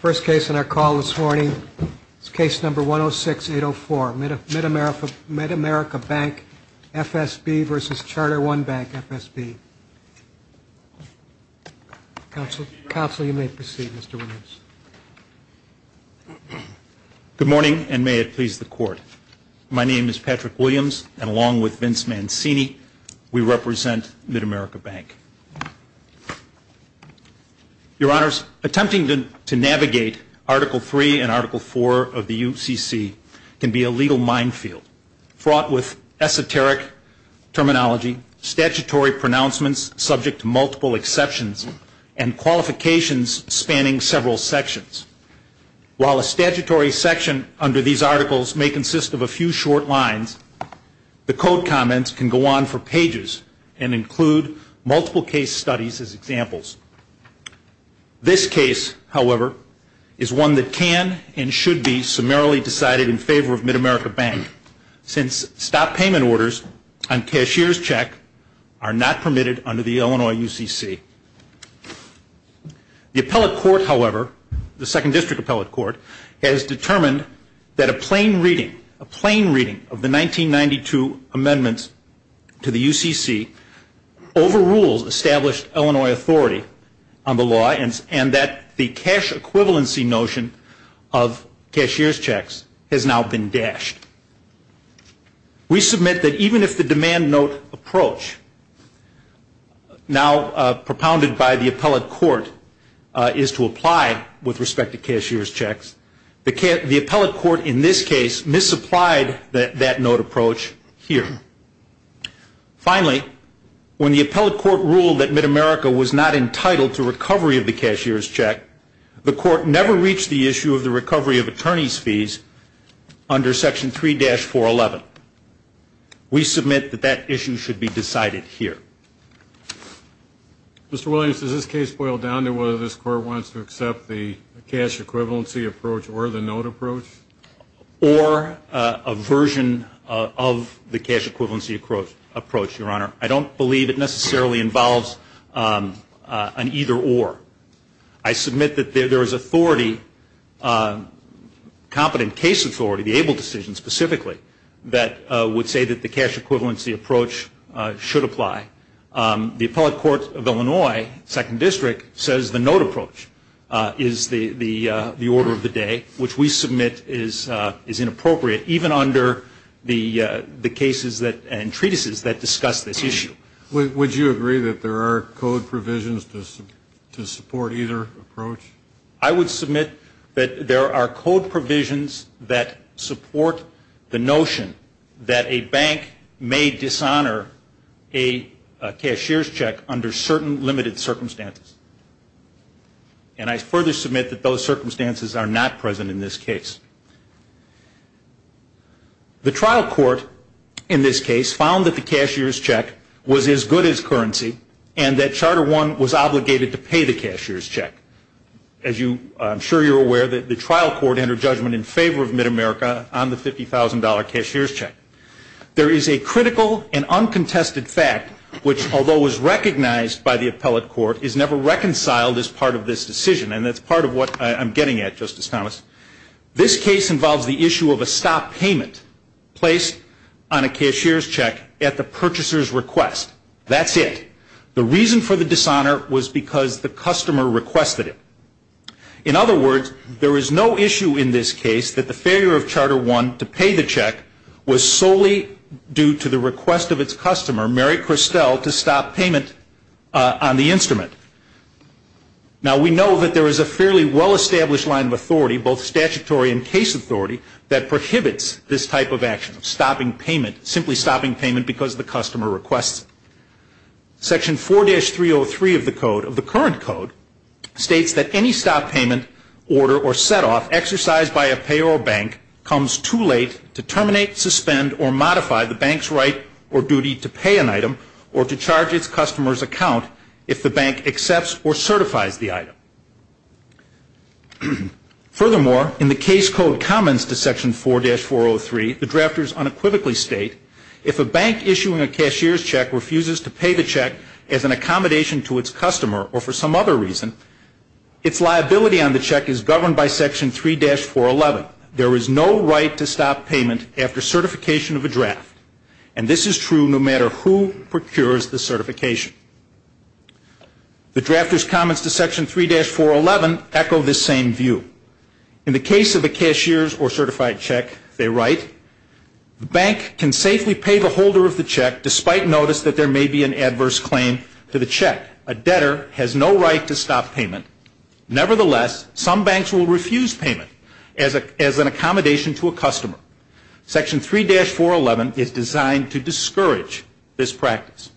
First case in our call this morning is case number 106804, MidAmerica Bank FSB v. Charter One Bank FSB. Counsel, you may proceed, Mr. Williams. Good morning, and may it please the Court. My name is Patrick Williams, and along with Vince Mancini, we represent MidAmerica Bank. Your Honors, attempting to navigate Article III and Article IV of the UCC can be a legal minefield, fraught with esoteric terminology, statutory pronouncements subject to multiple exceptions, and qualifications spanning several sections. While a statutory section under these articles may consist of a few short lines, the Code comments can go on for pages and include multiple case studies as examples. This case, however, is one that can and should be summarily decided in favor of MidAmerica Bank, since stop payment orders on cashier's check are not permitted under the Illinois UCC. The Appellate Court, however, the Second District Appellate Court, has determined that a plain reading, a plain reading of the 1992 amendments to the UCC overrules established Illinois authority on the law, and that the cash equivalency notion of cashier's checks has now been dashed. We submit that even if the demand note approach now propounded by the Appellate Court is to apply with respect to cashier's checks, the Appellate Court in this case misapplied that note approach here. Finally, when the Appellate Court ruled that MidAmerica was not entitled to recovery of the cashier's check, the Court never reached the issue of the recovery of attorney's fees under Section 3-411. We submit that that issue should be decided here. Mr. Williams, does this case boil down to whether this Court wants to accept the cash equivalency approach or the note approach? Or a version of the cash equivalency approach, Your Honor. I don't believe it necessarily involves an either or. I submit that there is authority, competent case authority, the ABLE decision specifically, that would say that the cash equivalency approach should apply. The Appellate Court of Illinois, Second District, says the note approach is the order of the day, which we submit is inappropriate, even under the cases and treatises that discuss this issue. Would you agree that there are code provisions to support either approach? I would submit that there are code provisions that support the notion that a bank may dishonor a cashier's check under certain limited circumstances. And I further submit that those circumstances are not present in this case. The trial court in this case found that the cashier's check was as good as currency and that Charter I was obligated to pay the cashier's check. As I'm sure you're aware, the trial court entered judgment in favor of MidAmerica on the $50,000 cashier's check. There is a critical and uncontested fact, which, although it was recognized by the appellate court, is never reconciled as part of this decision. And that's part of what I'm getting at, Justice Thomas. This case involves the issue of a stop payment placed on a cashier's check at the purchaser's request. That's it. The reason for the dishonor was because the customer requested it. In other words, there is no issue in this case that the failure of Charter I to pay the check was solely due to the request of its customer, Mary Christel, to stop payment on the instrument. Now, we know that there is a fairly well-established line of authority, both statutory and case authority, that prohibits this type of action, simply stopping payment because the customer requests it. Section 4-303 of the current code states that any stop payment, order, or set-off exercised by a payroll bank comes too late to terminate, suspend, or modify the bank's right or duty to pay an item or to charge its customer's account Furthermore, in the case code comments to Section 4-403, the drafters unequivocally state, if a bank issuing a cashier's check refuses to pay the check as an accommodation to its customer or for some other reason, its liability on the check is governed by Section 3-411. There is no right to stop payment after certification of a draft. And this is true no matter who procures the certification. The drafters' comments to Section 3-411 echo this same view. In the case of a cashier's or certified check, they write, the bank can safely pay the holder of the check despite notice that there may be an adverse claim to the check. A debtor has no right to stop payment. Nevertheless, some banks will refuse payment as an accommodation to a customer. Section 3-411 is designed to discourage this practice.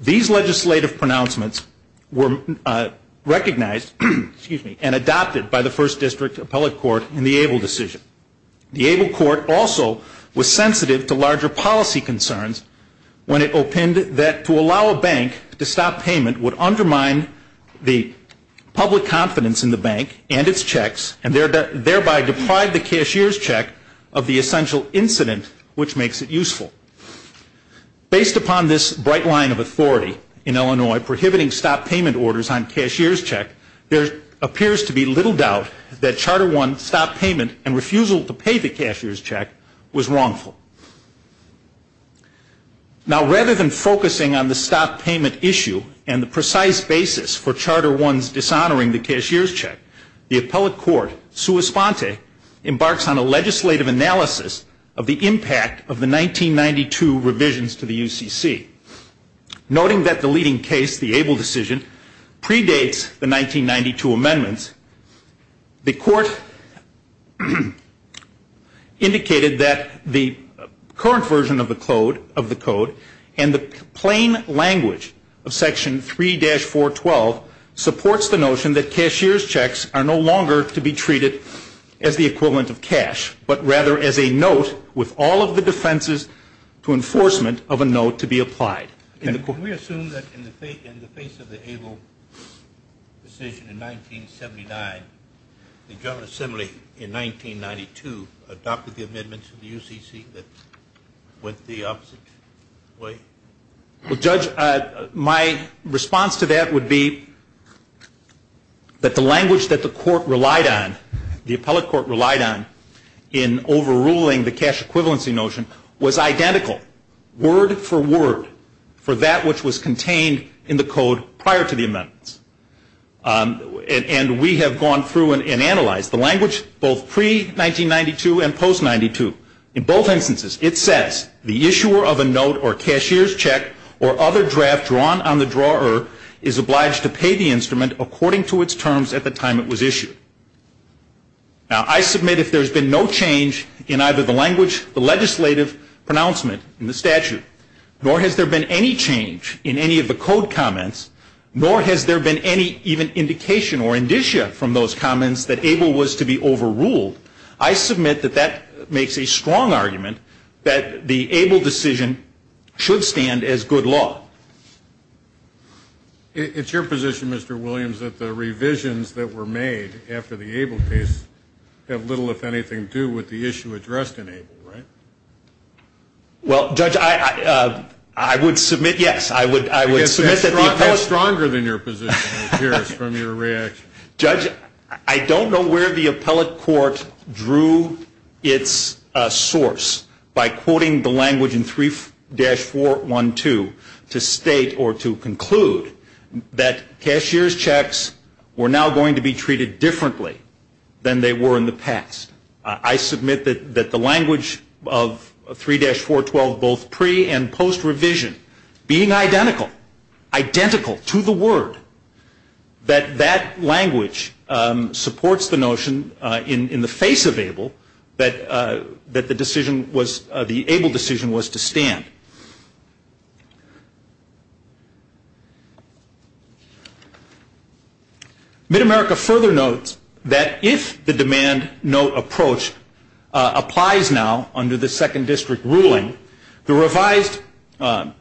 These legislative pronouncements were recognized and adopted by the First District Appellate Court in the Abel decision. The Abel Court also was sensitive to larger policy concerns when it opined that to allow a bank to stop payment would undermine the public confidence in the bank and its checks and thereby deprive the cashier's check of the essential incident which makes it useful. Based upon this bright line of authority in Illinois prohibiting stop payment orders on cashier's check, there appears to be little doubt that Charter 1 stop payment and refusal to pay the cashier's check was wrongful. Now, rather than focusing on the stop payment issue and the precise basis for Charter 1's dishonoring the cashier's check, the Appellate Court, sua sponte, embarks on a legislative analysis of the impact of the 1992 revisions to the UCC. Noting that the leading case, the Abel decision, predates the 1992 amendments, the Court indicated that the current version of the Code and the plain language of Section 3-412 supports the notion that cashier's checks are no longer to be treated as the equivalent of cash but rather as a note with all of the defenses to enforcement of a note to be applied. Can we assume that in the face of the Abel decision in 1979, the General Assembly in 1992 adopted the amendments of the UCC that went the opposite way? Well, Judge, my response to that would be that the language that the Court relied on, the Appellate Court relied on in overruling the cash equivalency notion, was identical word for word for that which was contained in the Code prior to the amendments. And we have gone through and analyzed the language both pre-1992 and post-92. In both instances, it says the issuer of a note or cashier's check or other draft drawn on the drawer is obliged to pay the instrument according to its terms at the time it was issued. Now, I submit if there's been no change in either the language, the legislative pronouncement in the statute, nor has there been any change in any of the Code comments, nor has there been any even indication or indicia from those comments that Abel was to be overruled, I submit that that makes a strong argument that the Abel decision should stand as good law. It's your position, Mr. Williams, that the revisions that were made after the Abel case have little, if anything, to do with the issue addressed in Abel, right? Well, Judge, I would submit, yes, I would submit that the appellate court That's stronger than your position appears from your reaction. Judge, I don't know where the appellate court drew its source by quoting the language in 3-412 to state or to conclude that cashier's checks were now going to be treated differently than they were in the past. I submit that the language of 3-412, both pre- and post-revision, being identical, identical to the word, that that language supports the notion in the face of Abel that the Abel decision was to stand. Mid-America further notes that if the demand-note approach applies now under the Second District ruling, under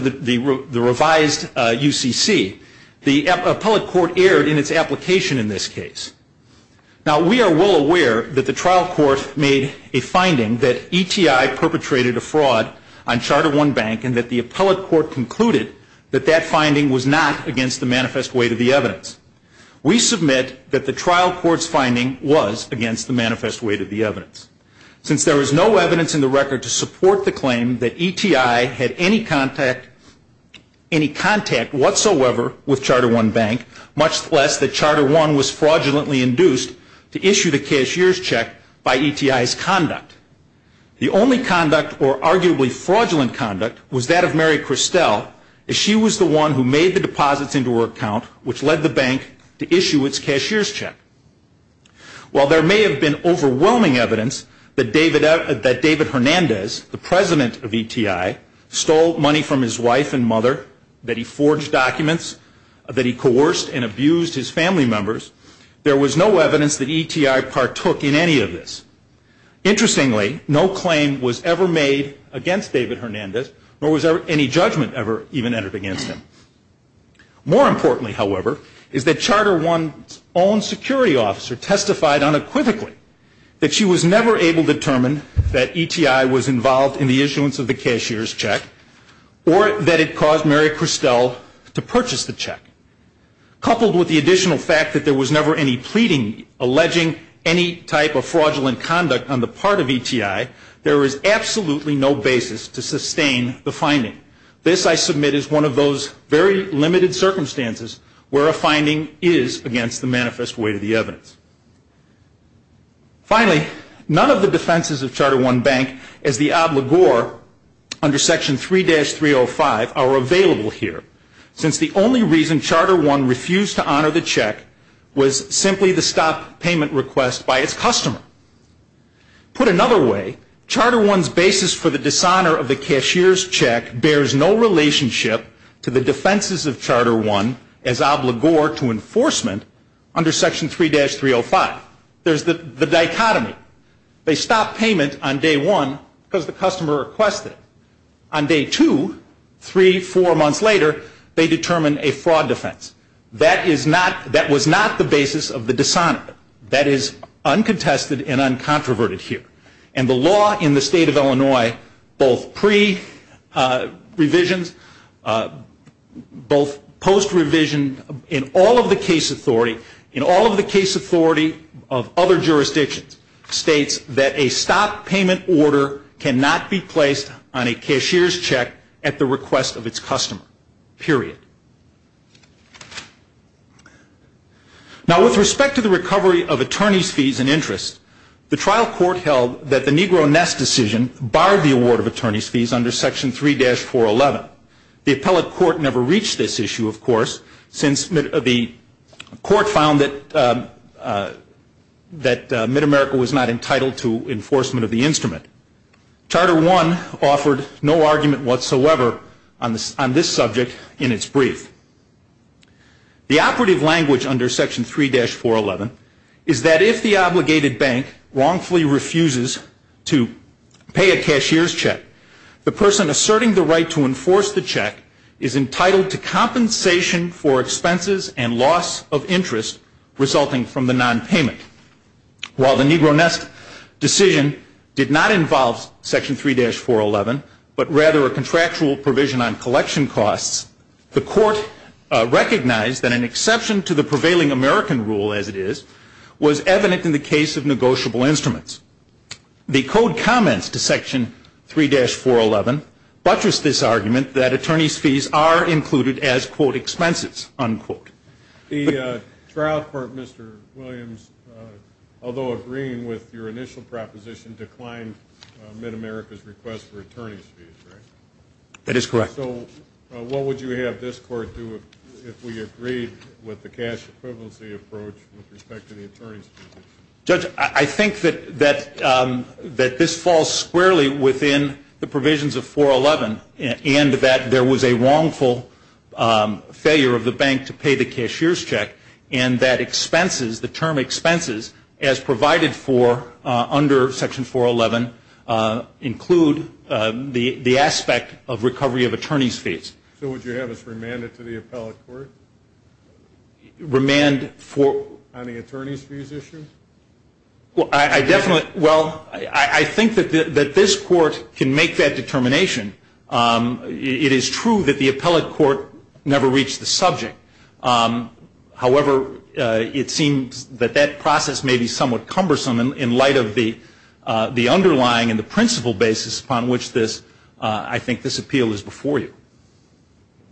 the revised UCC, the appellate court erred in its application in this case. Now, we are well aware that the trial court made a finding that ETI perpetrated a fraud on Charter I Bank and that the appellate court concluded that that finding was not against the manifest weight of the evidence. We submit that the trial court's finding was against the manifest weight of the evidence. Since there was no evidence in the record to support the claim that ETI had any contact whatsoever with Charter I Bank, much less that Charter I was fraudulently induced to issue the cashier's check by ETI's conduct, the only conduct, or arguably fraudulent conduct, was that of Mary Christel, as she was the one who made the deposits into her account, which led the bank to issue its cashier's check. While there may have been overwhelming evidence that David Hernandez, the president of ETI, stole money from his wife and mother, that he forged documents, that he coerced and abused his family members, there was no evidence that ETI partook in any of this. Interestingly, no claim was ever made against David Hernandez, nor was any judgment ever even entered against him. More importantly, however, is that Charter I's own security officer testified unequivocally that she was never able to determine that ETI was involved in the issuance of the cashier's check or that it caused Mary Christel to purchase the check. Coupled with the additional fact that there was never any pleading alleging any type of fraudulent conduct on the part of ETI, there is absolutely no basis to sustain the finding. This, I submit, is one of those very limited circumstances where a finding is against the manifest weight of the evidence. Finally, none of the defenses of Charter I Bank as the obligor under Section 3-305 are available here, since the only reason Charter I refused to honor the check was simply the stop payment request by its customer. Put another way, Charter I's basis for the dishonor of the cashier's check bears no relationship to the defenses of Charter I as obligor to enforcement under Section 3-305. There's the dichotomy. They stopped payment on day one because the customer requested it. On day two, three, four months later, they determine a fraud defense. That was not the basis of the dishonor. That is uncontested and uncontroverted here. And the law in the state of Illinois, both pre-revisions, both post-revision, in all of the case authority, in all of the case authority of other jurisdictions, states that a stop payment order cannot be placed on a cashier's check at the request of its customer, period. Now, with respect to the recovery of attorney's fees and interest, the trial court held that the Negro Ness decision barred the award of attorney's fees under Section 3-411. The appellate court never reached this issue, of course, since the court found that Mid-America was not entitled to enforcement of the instrument. Charter I offered no argument whatsoever on this subject in its brief. The operative language under Section 3-411 is that if the obligated bank wrongfully refuses to pay a cashier's check, the person asserting the right to enforce the check is entitled to compensation for expenses and loss of interest resulting from the nonpayment. While the Negro Ness decision did not involve Section 3-411, but rather a contractual provision on collection costs, the court recognized that an exception to the prevailing American rule, as it is, was evident in the case of negotiable instruments. The code comments to Section 3-411 buttress this argument that attorney's fees are included as, quote, expenses, unquote. The trial court, Mr. Williams, although agreeing with your initial proposition, declined Mid-America's request for attorney's fees, right? That is correct. So what would you have this court do if we agreed with the cash equivalency approach with respect to the attorney's fees? Judge, I think that this falls squarely within the provisions of 411 and that there was a wrongful failure of the bank to pay the cashier's check and that expenses, the term expenses, as provided for under Section 411, include the aspect of recovery of attorney's fees. So what you have is remand it to the appellate court? Remand for? On the attorney's fees issue? Well, I definitely, well, I think that this court can make that determination. It is true that the appellate court never reached the subject. However, it seems that that process may be somewhat cumbersome in light of the underlying and the principle basis upon which this, I think, this appeal is before you.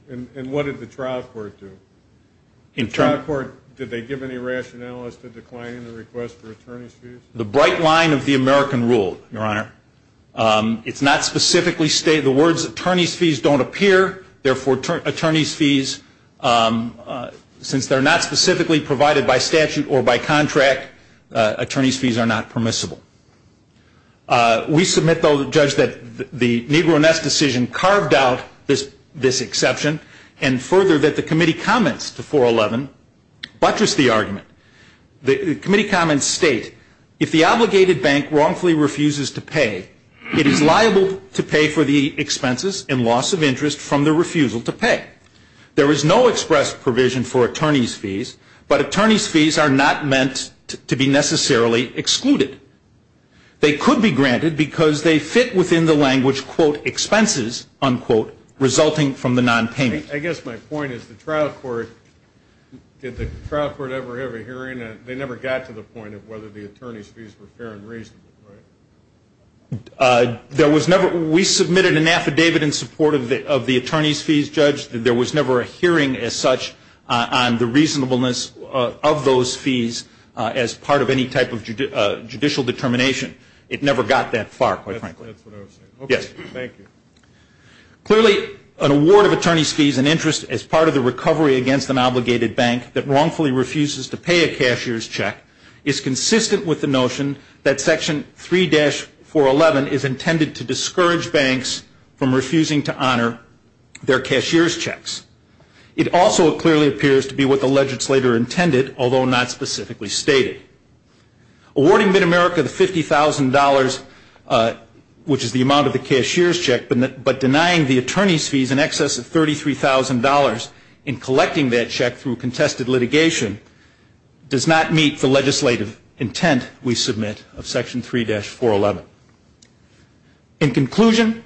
And what did the trial court do? The trial court, did they give any rationale as to declining the request for attorney's fees? The bright line of the American rule, Your Honor. It's not specifically stated. The words attorney's fees don't appear. Therefore, attorney's fees, since they're not specifically provided by statute or by contract, attorney's fees are not permissible. We submit, though, Judge, that the Negro Ness decision carved out this exception and further that the committee comments to 411 buttress the argument. The committee comments state, if the obligated bank wrongfully refuses to pay, it is liable to pay for the expenses and loss of interest from the refusal to pay. There is no express provision for attorney's fees, but attorney's fees are not meant to be necessarily excluded. They could be granted because they fit within the language, quote, expenses, unquote, resulting from the nonpayment. I guess my point is the trial court, did the trial court ever have a hearing? They never got to the point of whether the attorney's fees were fair and reasonable, right? There was never. We submitted an affidavit in support of the attorney's fees, Judge. There was never a hearing as such on the reasonableness of those fees as part of any type of judicial determination. It never got that far, quite frankly. That's what I was saying. Yes. Thank you. Clearly, an award of attorney's fees and interest as part of the recovery against an obligated bank that wrongfully refuses to pay a cashier's check is consistent with the notion that Section 3-411 It also clearly appears to be what the legislator intended, although not specifically stated. Awarding MidAmerica the $50,000, which is the amount of the cashier's check, but denying the attorney's fees in excess of $33,000 in collecting that check through contested litigation does not meet the legislative intent we submit of Section 3-411. In conclusion,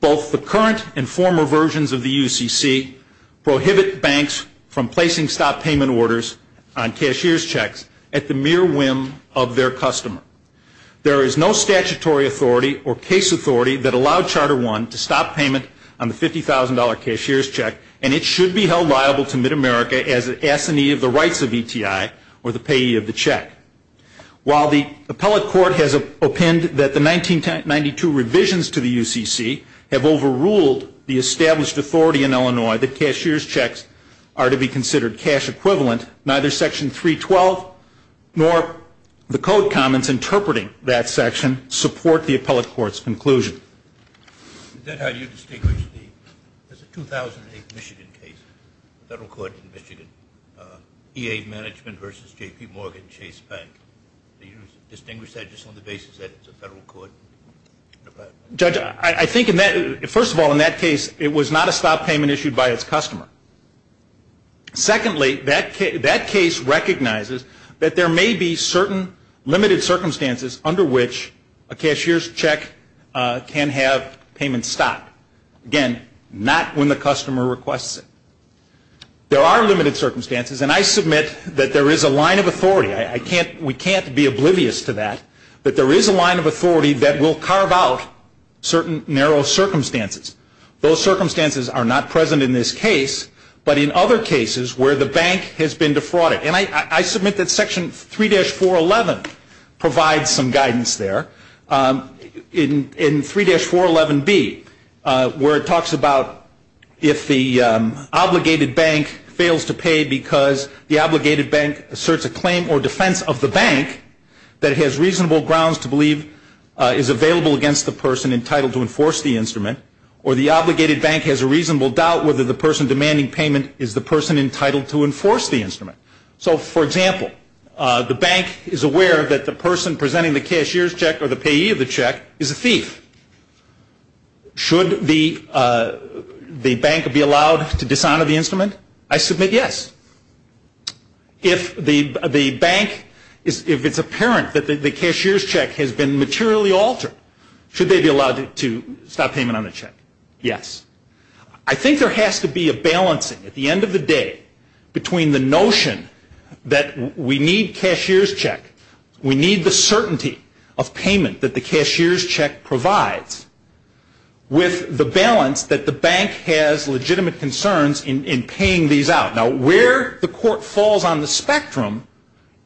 both the current and former versions of the UCC prohibit banks from placing stop payment orders on cashier's checks at the mere whim of their customer. There is no statutory authority or case authority that allowed Charter 1 to stop payment on the $50,000 cashier's check, and it should be held liable to MidAmerica as an assignee of the rights of ETI or the payee of the check. While the appellate court has opined that the 1992 revisions to the UCC have overruled the established authority in Illinois that cashier's checks are to be considered cash equivalent, neither Section 3-12 nor the code comments interpreting that section support the appellate court's conclusion. Is that how you distinguish the 2008 Michigan case? The federal court in Michigan, EA Management v. J.P. Morgan Chase Bank. Do you distinguish that just on the basis that it's a federal court? Judge, I think first of all in that case it was not a stop payment issued by its customer. Secondly, that case recognizes that there may be certain limited circumstances under which a cashier's check can have payments stopped. Again, not when the customer requests it. There are limited circumstances, and I submit that there is a line of authority. We can't be oblivious to that, but there is a line of authority that will carve out certain narrow circumstances. Those circumstances are not present in this case, but in other cases where the bank has been defrauded. And I submit that Section 3-411 provides some guidance there. In 3-411B, where it talks about if the obligated bank fails to pay because the obligated bank asserts a claim or defense of the bank that it has reasonable grounds to believe is available against the person entitled to enforce the instrument, or the obligated bank has a reasonable doubt whether the person demanding payment is the person entitled to enforce the instrument. So, for example, the bank is aware that the person presenting the cashier's check or the payee of the check is a thief. Should the bank be allowed to dishonor the instrument? I submit yes. If it's apparent that the cashier's check has been materially altered, should they be allowed to stop payment on the check? Yes. I think there has to be a balancing at the end of the day between the notion that we need cashier's check, we need the certainty of payment that the cashier's check provides, with the balance that the bank has legitimate concerns in paying these out. Now, where the court falls on the spectrum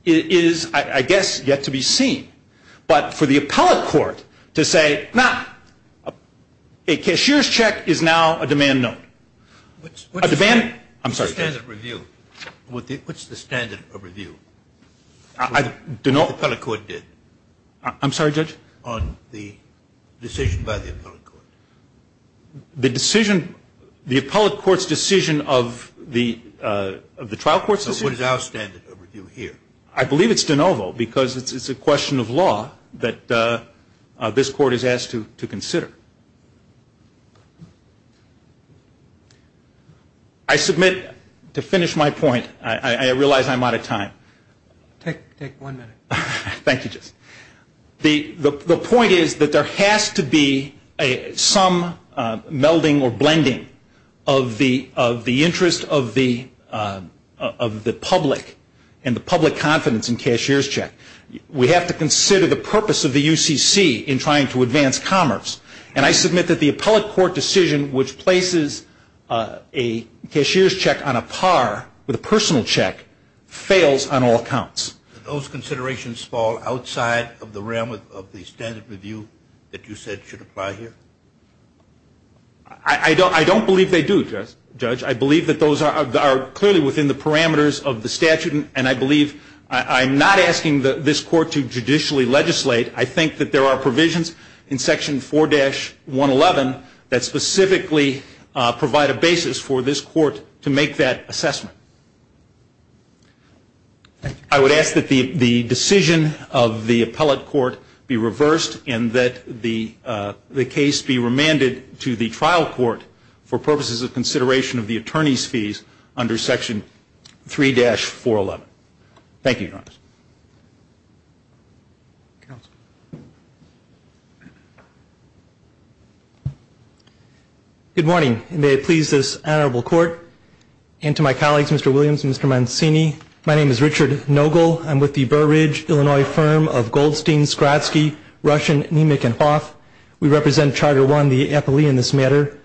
is, I guess, yet to be seen. But for the appellate court to say, no, a cashier's check is now a demand note. A demand? I'm sorry, Judge. What's the standard of review that the appellate court did? I'm sorry, Judge? On the decision by the appellate court. The decision, the appellate court's decision of the trial court's decision? What is our standard of review here? I believe it's de novo because it's a question of law that this court is asked to consider. I submit, to finish my point, I realize I'm out of time. Take one minute. Thank you, Judge. The point is that there has to be some melding or blending of the interest of the public and the public confidence in cashier's check. We have to consider the purpose of the UCC in trying to advance commerce. And I submit that the appellate court decision, which places a cashier's check on a par with a personal check, fails on all accounts. Do those considerations fall outside of the realm of the standard of review that you said should apply here? I don't believe they do, Judge. I believe that those are clearly within the parameters of the statute, and I believe I'm not asking this court to judicially legislate. I think that there are provisions in Section 4-111 that specifically provide a basis for this court to make that assessment. I would ask that the decision of the appellate court be reversed and that the case be remanded to the trial court for purposes of consideration of the attorney's fees under Section 3-411. Thank you, Your Honor. Good morning, and may it please this honorable court, and to my colleagues, Mr. Williams and Mr. Mancini, my name is Richard Nogle. I'm with the Burridge, Illinois, firm of Goldstein, Skrotsky, Russian, Nemec, and Hoth. We represent Charter 1, the appellee in this matter.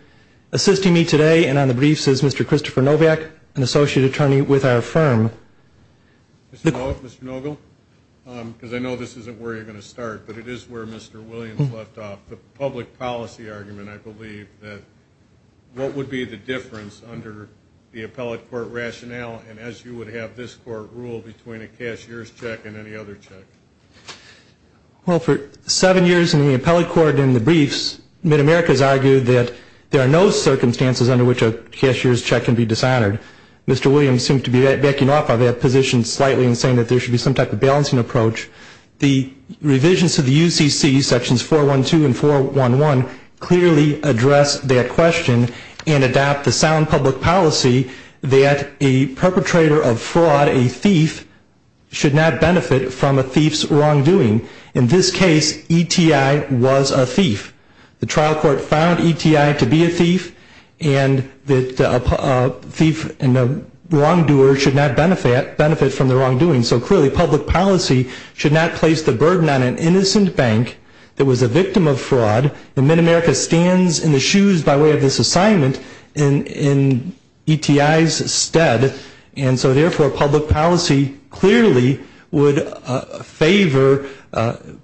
Assisting me today and on the briefs is Mr. Christopher Novak, an associate attorney with our firm. Mr. Nogle, because I know this isn't where you're going to start, but it is where Mr. Williams left off. The public policy argument, I believe, that what would be the difference under the appellate court rationale, and as you would have this court rule, between a cashier's check and any other check? Well, for seven years in the appellate court and the briefs, MidAmerica has argued that there are no circumstances under which a cashier's check can be dishonored. Mr. Williams seemed to be backing off of that position slightly in saying that there should be some type of balancing approach. The revisions to the UCC, Sections 412 and 411, clearly address that question and adapt the sound public policy that a perpetrator of fraud, a thief, should not benefit from a thief's wrongdoing. In this case, ETI was a thief. The trial court found ETI to be a thief and that a thief and a wrongdoer should not benefit from the wrongdoing. So clearly public policy should not place the burden on an innocent bank that was a victim of fraud. And MidAmerica stands in the shoes, by way of this assignment, in ETI's stead. And so therefore public policy clearly would favor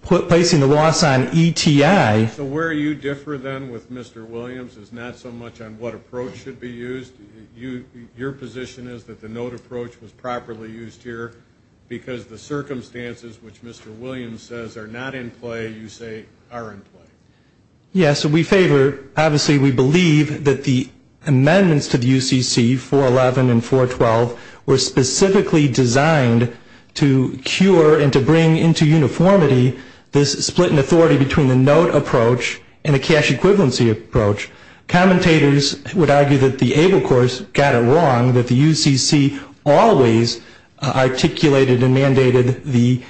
placing the loss on ETI. So where you differ then with Mr. Williams is not so much on what approach should be used. Your position is that the note approach was properly used here because the circumstances which Mr. Williams says are not in play, you say are in play. Yes, so we favor. Obviously we believe that the amendments to the UCC, 411 and 412, were specifically designed to cure and to bring into uniformity this split in authority between the note approach and the cash equivalency approach. Commentators would argue that the ABLE course got it wrong, that the UCC always articulated and mandated the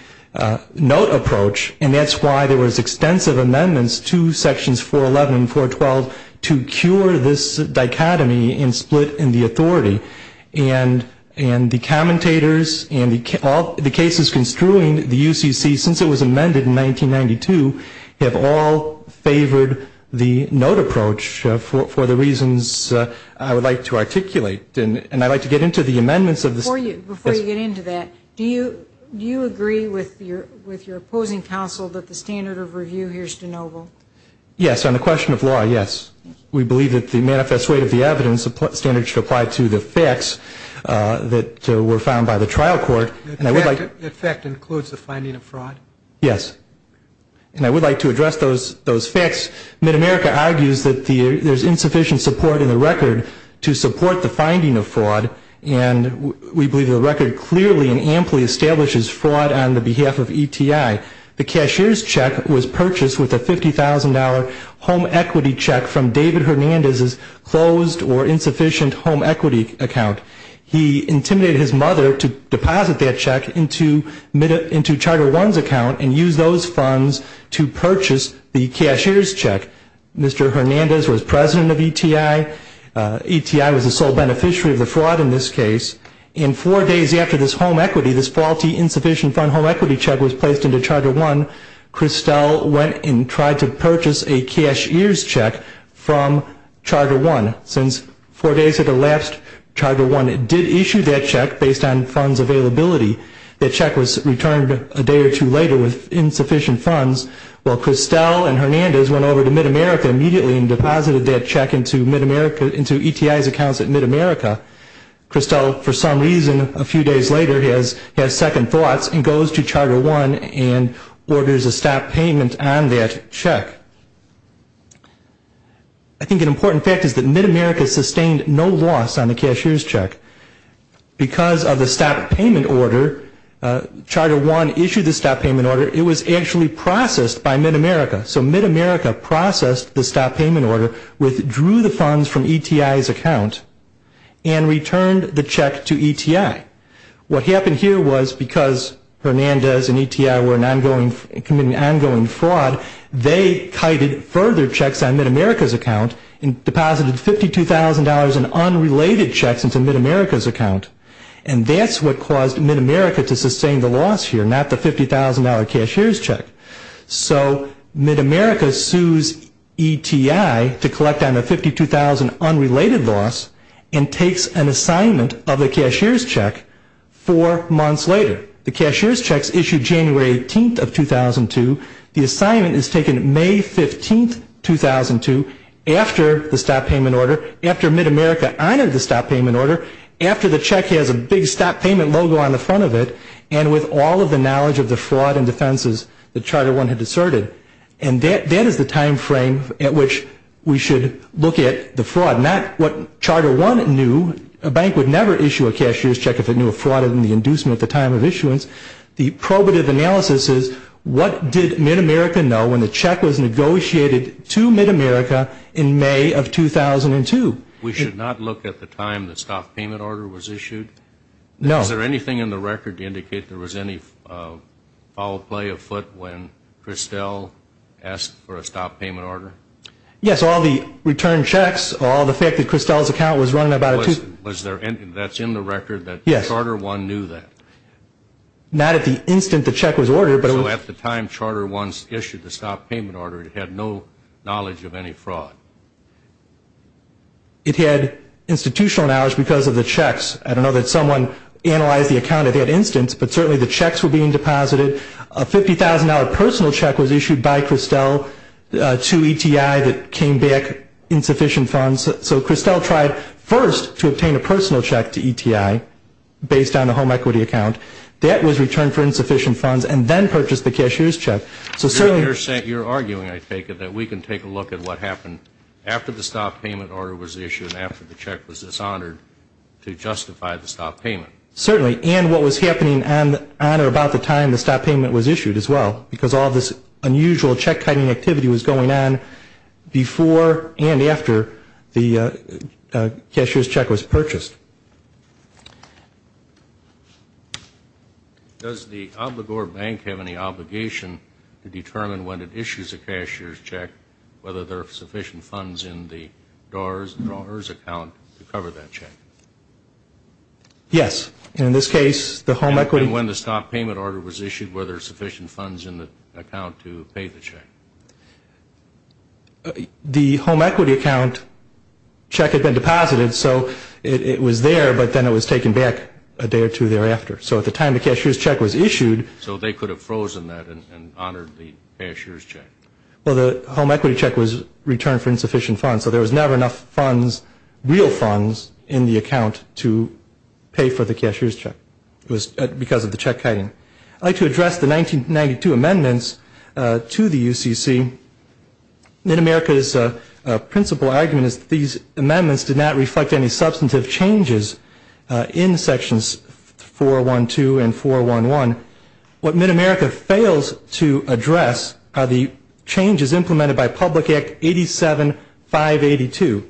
note approach and that's why there was extensive amendments to sections 411 and 412 to cure this dichotomy and split in the authority. And the commentators and the cases construing the UCC since it was amended in 1992 have all favored the note approach for the reasons I would like to articulate. And I'd like to get into the amendments. Before you get into that, do you agree with your opposing counsel that the standard of review here is de novo? Yes, on the question of law, yes. We believe that the manifest weight of the evidence standard should apply to the facts that were found by the trial court. The fact includes the finding of fraud? Yes. And I would like to address those facts. MidAmerica argues that there's insufficient support in the record to support the finding of fraud and we believe the record clearly and amply establishes fraud on the behalf of ETI. The cashier's check was purchased with a $50,000 home equity check from David Hernandez's closed or insufficient home equity account. He intimidated his mother to deposit that check into Charter One's account and use those funds to purchase the cashier's check. Mr. Hernandez was president of ETI. ETI was the sole beneficiary of the fraud in this case. And four days after this home equity, this faulty insufficient home equity check was placed into Charter One, Christel went and tried to purchase a cashier's check from Charter One. Since four days had elapsed, Charter One did issue that check based on funds availability. The check was returned a day or two later with insufficient funds, while Christel and Hernandez went over to MidAmerica immediately and deposited that check into ETI's accounts at MidAmerica. Christel, for some reason, a few days later has second thoughts and goes to Charter One and orders a stop payment on that check. I think an important fact is that MidAmerica sustained no loss on the cashier's check. Because of the stop payment order, Charter One issued the stop payment order. It was actually processed by MidAmerica. So MidAmerica processed the stop payment order, withdrew the funds from ETI's account, and returned the check to ETI. What happened here was because Hernandez and ETI were committing ongoing fraud, and deposited $52,000 in unrelated checks into MidAmerica's account, and that's what caused MidAmerica to sustain the loss here, not the $50,000 cashier's check. So MidAmerica sues ETI to collect on the $52,000 unrelated loss and takes an assignment of the cashier's check four months later. The cashier's check is issued January 18th of 2002. The assignment is taken May 15th, 2002, after the stop payment order, after MidAmerica honored the stop payment order, after the check has a big stop payment logo on the front of it, and with all of the knowledge of the fraud and defenses that Charter One had asserted. And that is the time frame at which we should look at the fraud, not what Charter One knew. A bank would never issue a cashier's check if it knew a fraud and the inducement at the time of issuance. The probative analysis is what did MidAmerica know when the check was negotiated to MidAmerica in May of 2002? We should not look at the time the stop payment order was issued? No. Is there anything in the record to indicate there was any foul play afoot when Christel asked for a stop payment order? Yes, all the return checks, all the fact that Christel's account was running about a two- That's in the record that Charter One knew that? Not at the instant the check was ordered. So at the time Charter One issued the stop payment order, it had no knowledge of any fraud? It had institutional knowledge because of the checks. I don't know that someone analyzed the account at that instance, but certainly the checks were being deposited. A $50,000 personal check was issued by Christel to ETI that came back insufficient funds. So Christel tried first to obtain a personal check to ETI based on the home equity account. That was returned for insufficient funds and then purchased the cashier's check. So certainly- You're arguing, I take it, that we can take a look at what happened after the stop payment order was issued, after the check was dishonored, to justify the stop payment. Certainly. And what was happening on or about the time the stop payment was issued as well because all this unusual check-kiting activity was going on before and after the cashier's check was purchased. Does the Obligor Bank have any obligation to determine when it issues a cashier's check whether there are sufficient funds in the DARS and DRAWERS account to cover that check? Yes. In this case, the home equity- to pay the check. The home equity account check had been deposited so it was there but then it was taken back a day or two thereafter. So at the time the cashier's check was issued- So they could have frozen that and honored the cashier's check. Well, the home equity check was returned for insufficient funds so there was never enough funds, real funds, in the account to pay for the cashier's check. It was because of the check-kiting. I'd like to address the 1992 amendments to the UCC. Mid-America's principal argument is that these amendments did not reflect any substantive changes in Sections 412 and 411. What Mid-America fails to address are the changes implemented by Public Act 87-582.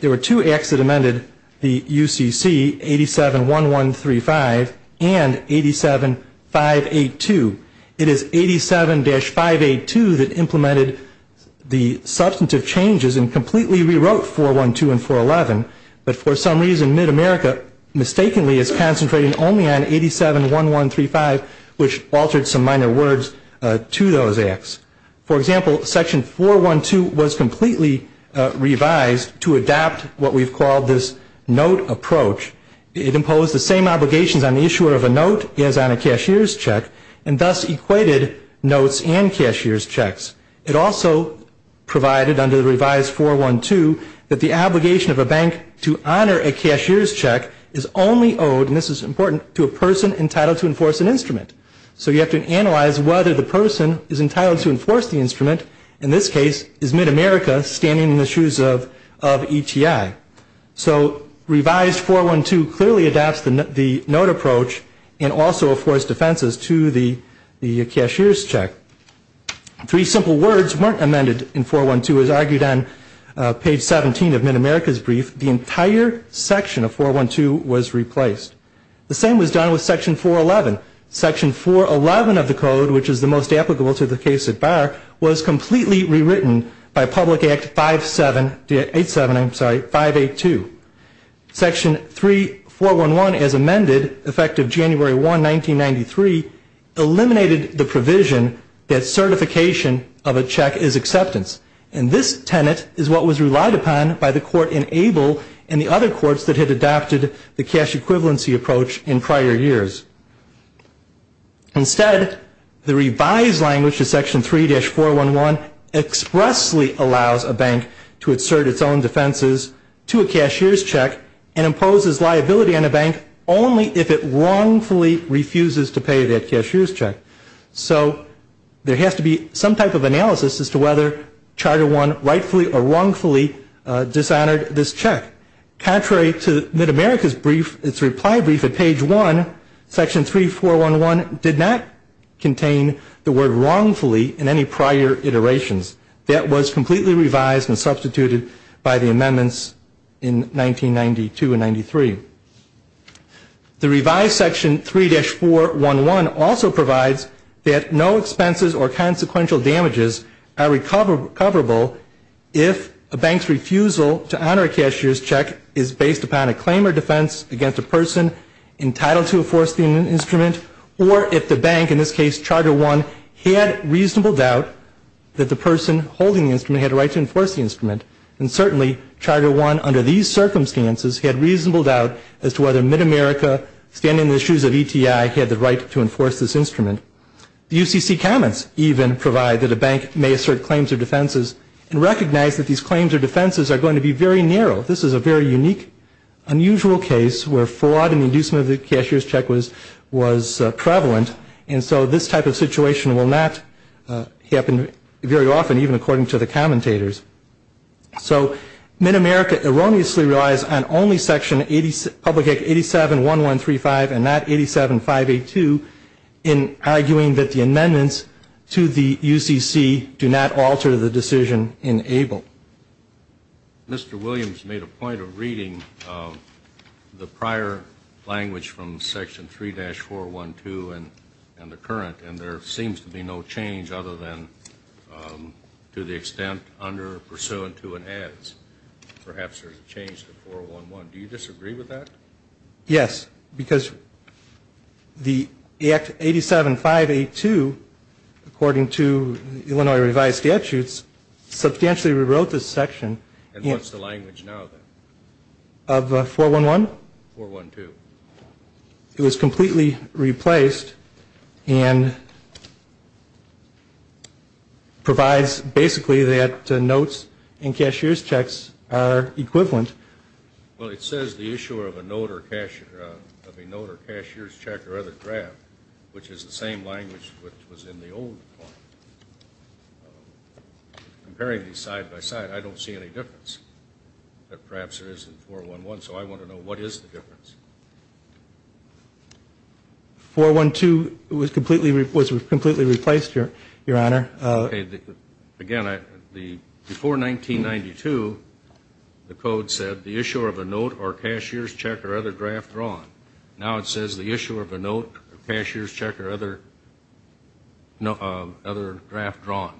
There were two acts that amended the UCC, 87-1135 and 87-582. It is 87-582 that implemented the substantive changes and completely rewrote 412 and 411 but for some reason Mid-America mistakenly is concentrating only on 87-1135 which altered some minor words to those acts. For example, Section 412 was completely revised to adapt what we've called this note approach. It imposed the same obligations on the issuer of a note as on a cashier's check and thus equated notes and cashier's checks. It also provided under the revised 412 that the obligation of a bank to honor a cashier's check is only owed-and this is important-to a person entitled to enforce an instrument. So you have to analyze whether the person is entitled to enforce the instrument, in this case is Mid-America standing in the shoes of ETI. So revised 412 clearly adapts the note approach and also affords defenses to the cashier's check. Three simple words weren't amended in 412 as argued on page 17 of Mid-America's brief. The entire section of 412 was replaced. The same was done with Section 411. Section 411 of the code, which is the most applicable to the case at bar, was completely rewritten by Public Act 582. Section 3411 as amended, effective January 1, 1993, eliminated the provision that certification of a check is acceptance. And this tenet is what was relied upon by the court in Abel and the other courts that had adopted the cash equivalency approach in prior years. Instead, the revised language of Section 3-411 expressly allows a bank to insert its own defenses to a cashier's check and imposes liability on a bank only if it wrongfully refuses to pay that cashier's check. So there has to be some type of analysis as to whether Charter I rightfully or wrongfully dishonored this check. Contrary to Mid-America's brief, its reply brief at page 1, Section 3411 did not contain the word wrongfully in any prior iterations. That was completely revised and substituted by the amendments in 1992 and 93. The revised Section 3-411 also provides that no expenses or consequential damages are recoverable if a bank's refusal to honor a cashier's check is based upon a claim or defense against a person entitled to enforce the instrument, or if the bank, in this case Charter I, had reasonable doubt that the person holding the instrument had a right to enforce the instrument. And certainly, Charter I, under these circumstances, had reasonable doubt as to whether Mid-America, standing in the shoes of ETI, had the right to enforce this instrument. The UCC comments even provide that a bank may assert claims or defenses and recognize that these claims or defenses are going to be very narrow. This is a very unique, unusual case where fraud and inducement of the cashier's check was prevalent, and so this type of situation will not happen very often, even according to the commentators. So Mid-America erroneously relies on only Public Act 87-1135 and not 87-582 in arguing that the amendments to the UCC do not alter the decision in ABLE. Mr. Williams made a point of reading the prior language from Section 3-412 and the current, and there seems to be no change other than to the extent under pursuant to and as. Perhaps there's a change to 411. Do you disagree with that? Yes, because the Act 87-582, according to Illinois revised statutes, substantially rewrote this section. And what's the language now then? Of 411? 412. It was completely replaced and provides basically that notes and cashier's checks are equivalent. Well, it says the issuer of a note or cashier's check or other draft, which is the same language which was in the old one. Comparing these side by side, I don't see any difference, but perhaps there is in 411, so I want to know what is the difference. 412 was completely replaced, Your Honor. Again, before 1992, the Code said the issuer of a note or cashier's check or other draft drawn. Now it says the issuer of a note or cashier's check or other draft drawn.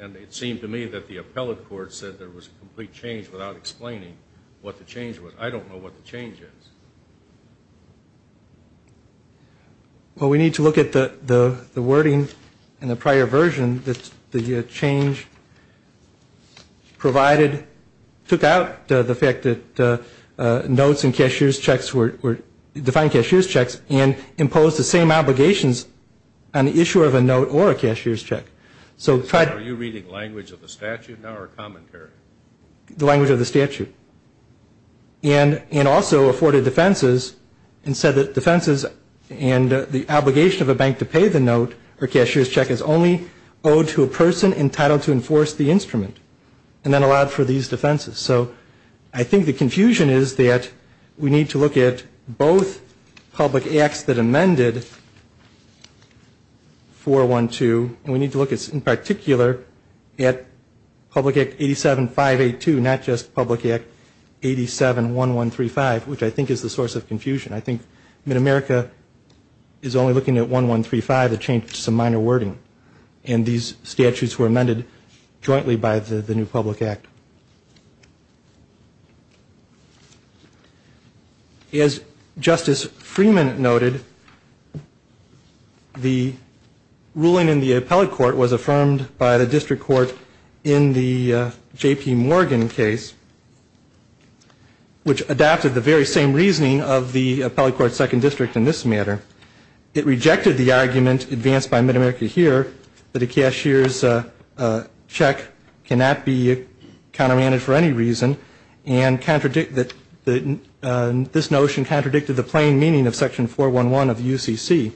And it seemed to me that the appellate court said there was a complete change without explaining what the change was. I don't know what the change is. Well, we need to look at the wording in the prior version. The wording that the change provided took out the fact that notes and cashier's checks were defined cashier's checks and imposed the same obligations on the issuer of a note or a cashier's check. Are you reading language of the statute now or commentary? The language of the statute. And also afforded defenses and said that defenses and the obligation of a bank to pay the note or cashier's check is only owed to a person entitled to enforce the instrument and then allowed for these defenses. So I think the confusion is that we need to look at both public acts that amended 412 and we need to look in particular at Public Act 87-582, not just Public Act 87-1135, which I think is the source of confusion. I think Mid-America is only looking at 1135, a change to some minor wording, and these statutes were amended jointly by the new Public Act. As Justice Freeman noted, the ruling in the appellate court was affirmed by the district court in the J.P. Morgan case, which adapted the very same reasoning of the appellate court's second district in this matter. It rejected the argument advanced by Mid-America here, that a cashier's check cannot be countermanded for any reason and this notion contradicted the plain meaning of Section 411 of the UCC.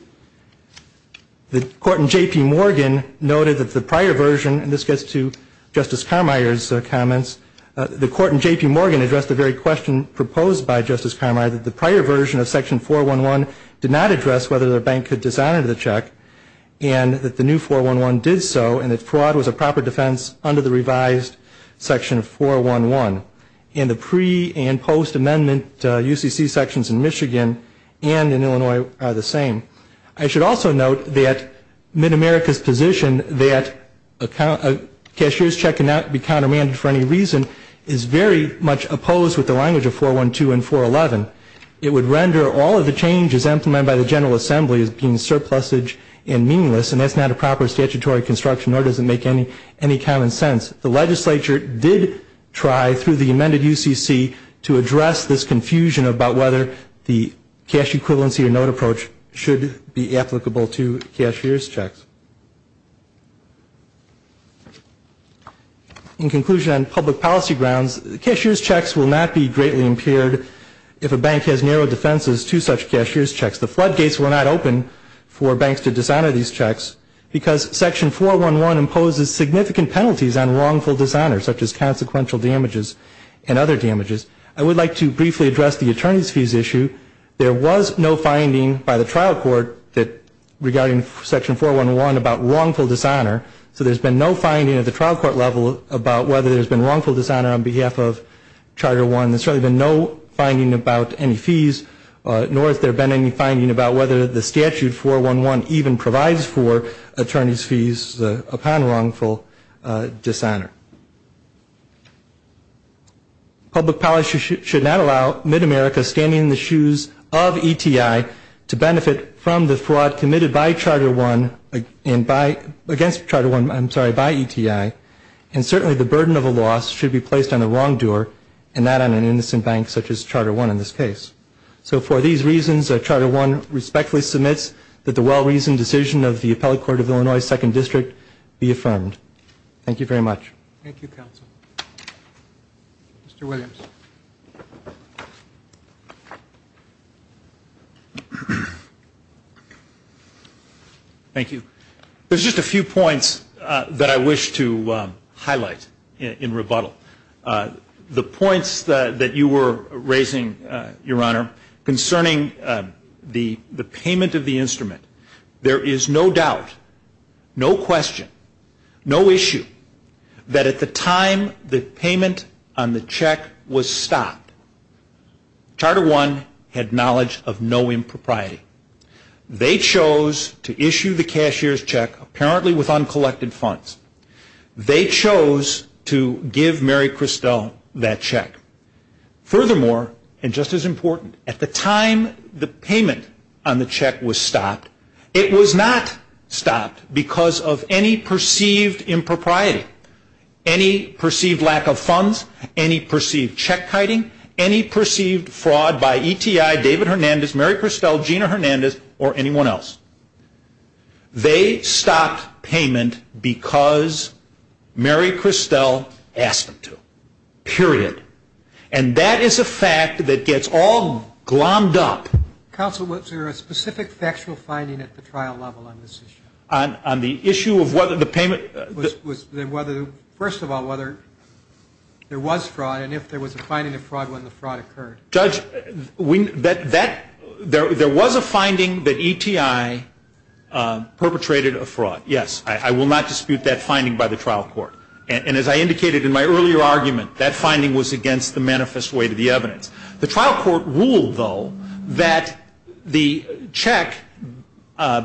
The court in J.P. Morgan noted that the prior version, and this gets to Justice Carmier's comments, the court in J.P. Morgan addressed the very question proposed by Justice Carmier that the prior version of Section 411 did not address whether the bank could dishonor the check and that the new 411 did so and that fraud was a proper defense under the revised Section 411. And the pre- and post-amendment UCC sections in Michigan and in Illinois are the same. I should also note that Mid-America's position that a cashier's check cannot be countermanded for any reason is very much opposed with the language of 412 and 411. It would render all of the changes implemented by the General Assembly as being surplusage and meaningless and that's not a proper statutory construction nor does it make any common sense. The legislature did try through the amended UCC to address this confusion about whether the cash equivalency or note approach should be applicable to cashier's checks. In conclusion, on public policy grounds, cashier's checks will not be greatly impaired if a bank has narrow defenses to such cashier's checks. The floodgates were not open for banks to dishonor these checks because Section 411 imposes significant penalties on wrongful dishonor such as consequential damages and other damages. I would like to briefly address the attorney's fees issue. There was no finding by the trial court regarding Section 411 about wrongful dishonor, so there's been no finding at the trial court level about whether there's been wrongful dishonor on behalf of Charter 1. There's certainly been no finding about any fees nor has there been any finding about whether the statute 411 even provides for attorney's fees upon wrongful dishonor. Public policy should not allow Mid-America, standing in the shoes of ETI, to benefit from the fraud committed by Charter 1 and against Charter 1, I'm sorry, by ETI, and certainly the burden of a loss should be placed on the wrongdoer and not on an innocent bank such as Charter 1 in this case. So for these reasons, Charter 1 respectfully submits that the well-reasoned decision of the Appellate Court of Illinois Second District be affirmed. Thank you very much. Thank you, counsel. Mr. Williams. Thank you. There's just a few points that I wish to highlight in rebuttal. The points that you were raising, Your Honor, concerning the payment of the instrument, there is no doubt, no question, no issue that at the time the payment on the check was stopped, Charter 1 had knowledge of no impropriety. They chose to issue the cashier's check apparently with uncollected funds. They chose to give Mary Christel that check. Furthermore, and just as important, at the time the payment on the check was stopped, it was not stopped because of any perceived impropriety, any perceived lack of funds, any perceived check-kiting, any perceived fraud by ETI, David Hernandez, Mary Christel, Gina Hernandez, or anyone else. They stopped payment because Mary Christel asked them to, period. And that is a fact that gets all glommed up. Counsel, was there a specific factual finding at the trial level on this issue? On the issue of whether the payment? First of all, whether there was fraud and if there was a finding of fraud when the fraud occurred. Judge, there was a finding that ETI perpetrated a fraud. Yes. I will not dispute that finding by the trial court. And as I indicated in my earlier argument, that finding was against the manifest way to the evidence. The trial court ruled, though, that the check,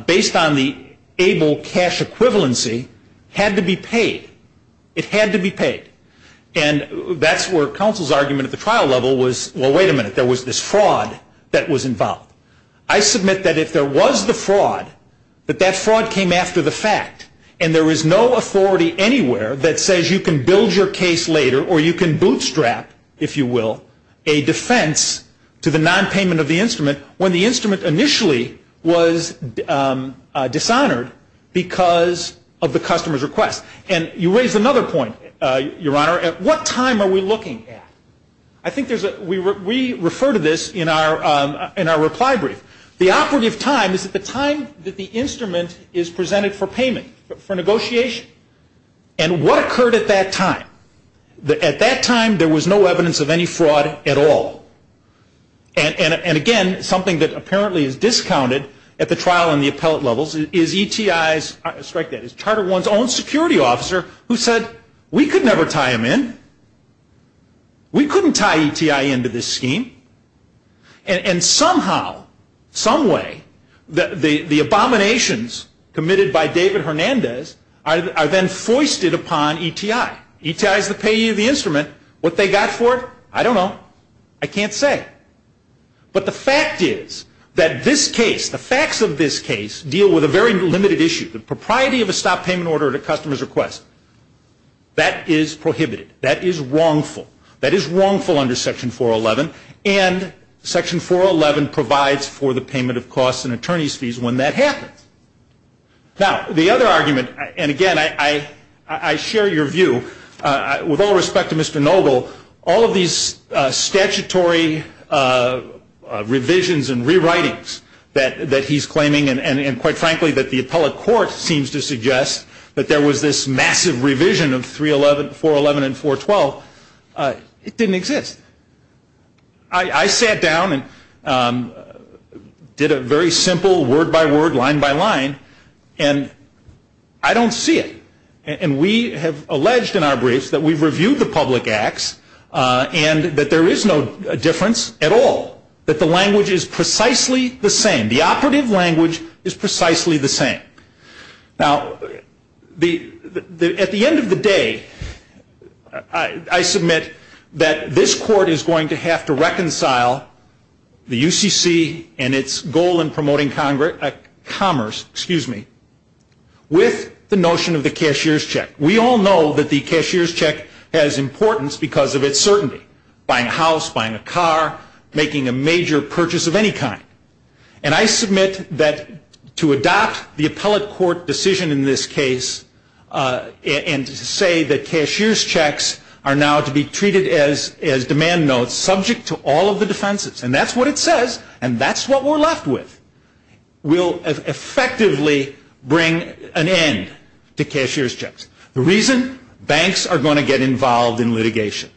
based on the ABLE cash equivalency, had to be paid. It had to be paid. And that's where counsel's argument at the trial level was, well, wait a minute, there was this fraud that was involved. I submit that if there was the fraud, that that fraud came after the fact, and there is no authority anywhere that says you can build your case later or you can bootstrap, if you will, a defense to the nonpayment of the instrument when the instrument initially was dishonored because of the customer's request. And you raise another point, Your Honor, at what time are we looking at? I think we refer to this in our reply brief. The operative time is at the time that the instrument is presented for payment, for negotiation. And what occurred at that time? At that time, there was no evidence of any fraud at all. And again, something that apparently is discounted at the trial and the appellate levels is ETI's, let me strike that, is Charter One's own security officer who said, we could never tie him in. We couldn't tie ETI into this scheme. And somehow, someway, the abominations committed by David Hernandez are then foisted upon ETI. ETI is the payee of the instrument. What they got for it, I don't know. I can't say. But the fact is that this case, the facts of this case, deal with a very limited issue, the propriety of a stop payment order at a customer's request. That is prohibited. That is wrongful. That is wrongful under Section 411. And Section 411 provides for the payment of costs and attorney's fees when that happens. Now, the other argument, and again, I share your view. With all respect to Mr. Noble, all of these statutory revisions and rewritings that he's claiming and quite frankly that the appellate court seems to suggest that there was this massive revision of 411 and 412, it didn't exist. I sat down and did a very simple word by word, line by line, and I don't see it. And we have alleged in our briefs that we've reviewed the public acts and that there is no difference at all, that the language is precisely the same. The operative language is precisely the same. Now, at the end of the day, I submit that this court is going to have to reconcile the UCC and its goal in promoting commerce with the notion of the cashier's check. We all know that the cashier's check has importance because of its certainty, buying a house, buying a car, making a major purchase of any kind. And I submit that to adopt the appellate court decision in this case and to say that cashier's checks are now to be treated as demand notes subject to all of the defenses, and that's what it says and that's what we're left with, will effectively bring an end to cashier's checks. The reason, banks are going to get involved in litigation.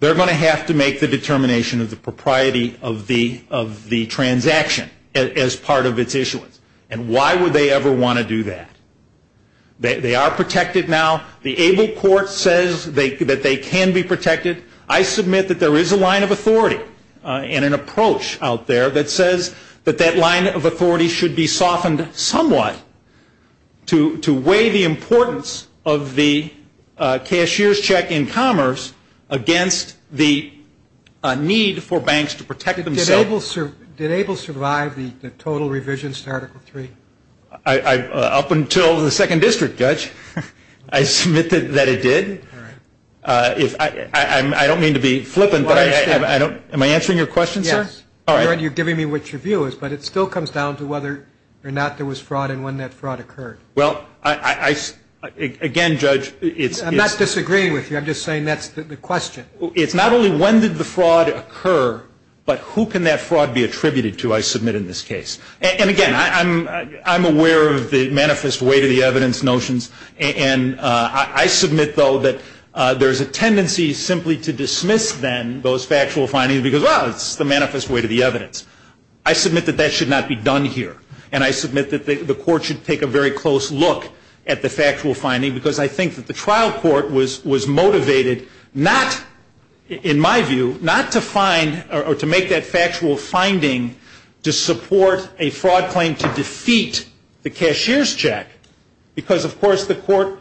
They're going to have to make the determination of the propriety of the transaction as part of its issuance. And why would they ever want to do that? They are protected now. The able court says that they can be protected. I submit that there is a line of authority and an approach out there that says that that line of authority should be softened somewhat to weigh the importance of the cashier's check in commerce against the need for banks to protect themselves. Did able survive the total revisions to Article III? Up until the Second District, Judge, I submit that it did. All right. I don't mean to be flippant, but am I answering your question, sir? Yes. All right. You're giving me what your view is, but it still comes down to whether or not there was fraud and when that fraud occurred. Well, again, Judge, it's – I'm not disagreeing with you. I'm just saying that's the question. It's not only when did the fraud occur, but who can that fraud be attributed to, I submit, in this case. And, again, I'm aware of the manifest way to the evidence notions, and I submit, though, that there is a tendency simply to dismiss then those factual findings because, well, it's the manifest way to the evidence. I submit that that should not be done here, and I submit that the court should take a very close look at the factual finding because I think that the trial court was motivated not, in my view, not to find or to make that factual finding to support a fraud claim to defeat the cashier's check because, of course, the court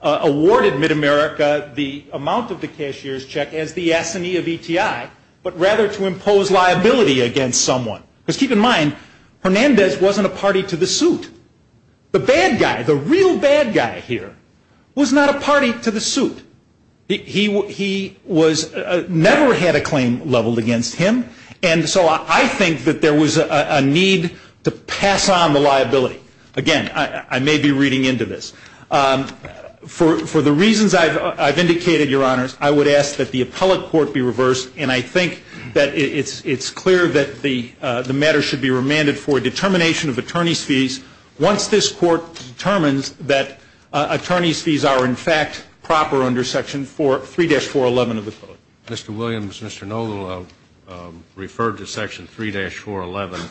awarded MidAmerica the amount of the cashier's check as the S&E of ETI, but rather to impose liability against someone. Because keep in mind, Hernandez wasn't a party to the suit. The bad guy, the real bad guy here, was not a party to the suit. He was – never had a claim leveled against him, and so I think that there was a need to pass on the liability. Again, I may be reading into this. For the reasons I've indicated, Your Honors, I would ask that the appellate court be reversed, and I think that it's clear that the matter should be remanded for a determination of attorney's fees once this court determines that attorney's fees are, in fact, proper under Section 3-411 of the code. Mr. Williams, Mr. Noble referred to Section 3-411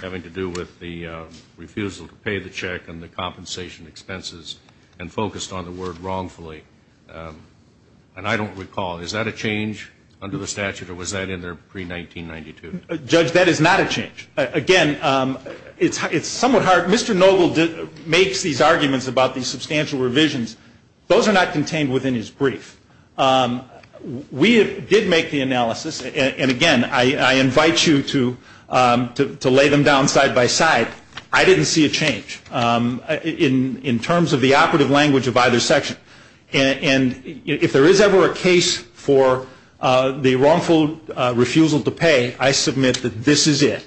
having to do with the refusal to pay the check and the compensation expenses and focused on the word wrongfully. And I don't recall. Is that a change under the statute, or was that in there pre-1992? Judge, that is not a change. Again, it's somewhat hard. Mr. Noble makes these arguments about these substantial revisions. Those are not contained within his brief. We did make the analysis, and again, I invite you to lay them down side by side. I didn't see a change in terms of the operative language of either section. And if there is ever a case for the wrongful refusal to pay, I submit that this is it,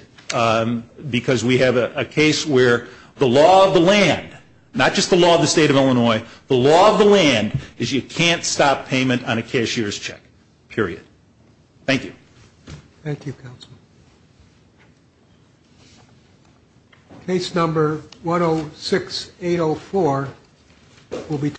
because we have a case where the law of the land, not just the law of the State of Illinois, the law of the land is you can't stop payment on a cashier's check, period. Thank you. Thank you, counsel. Case number 106804 will be.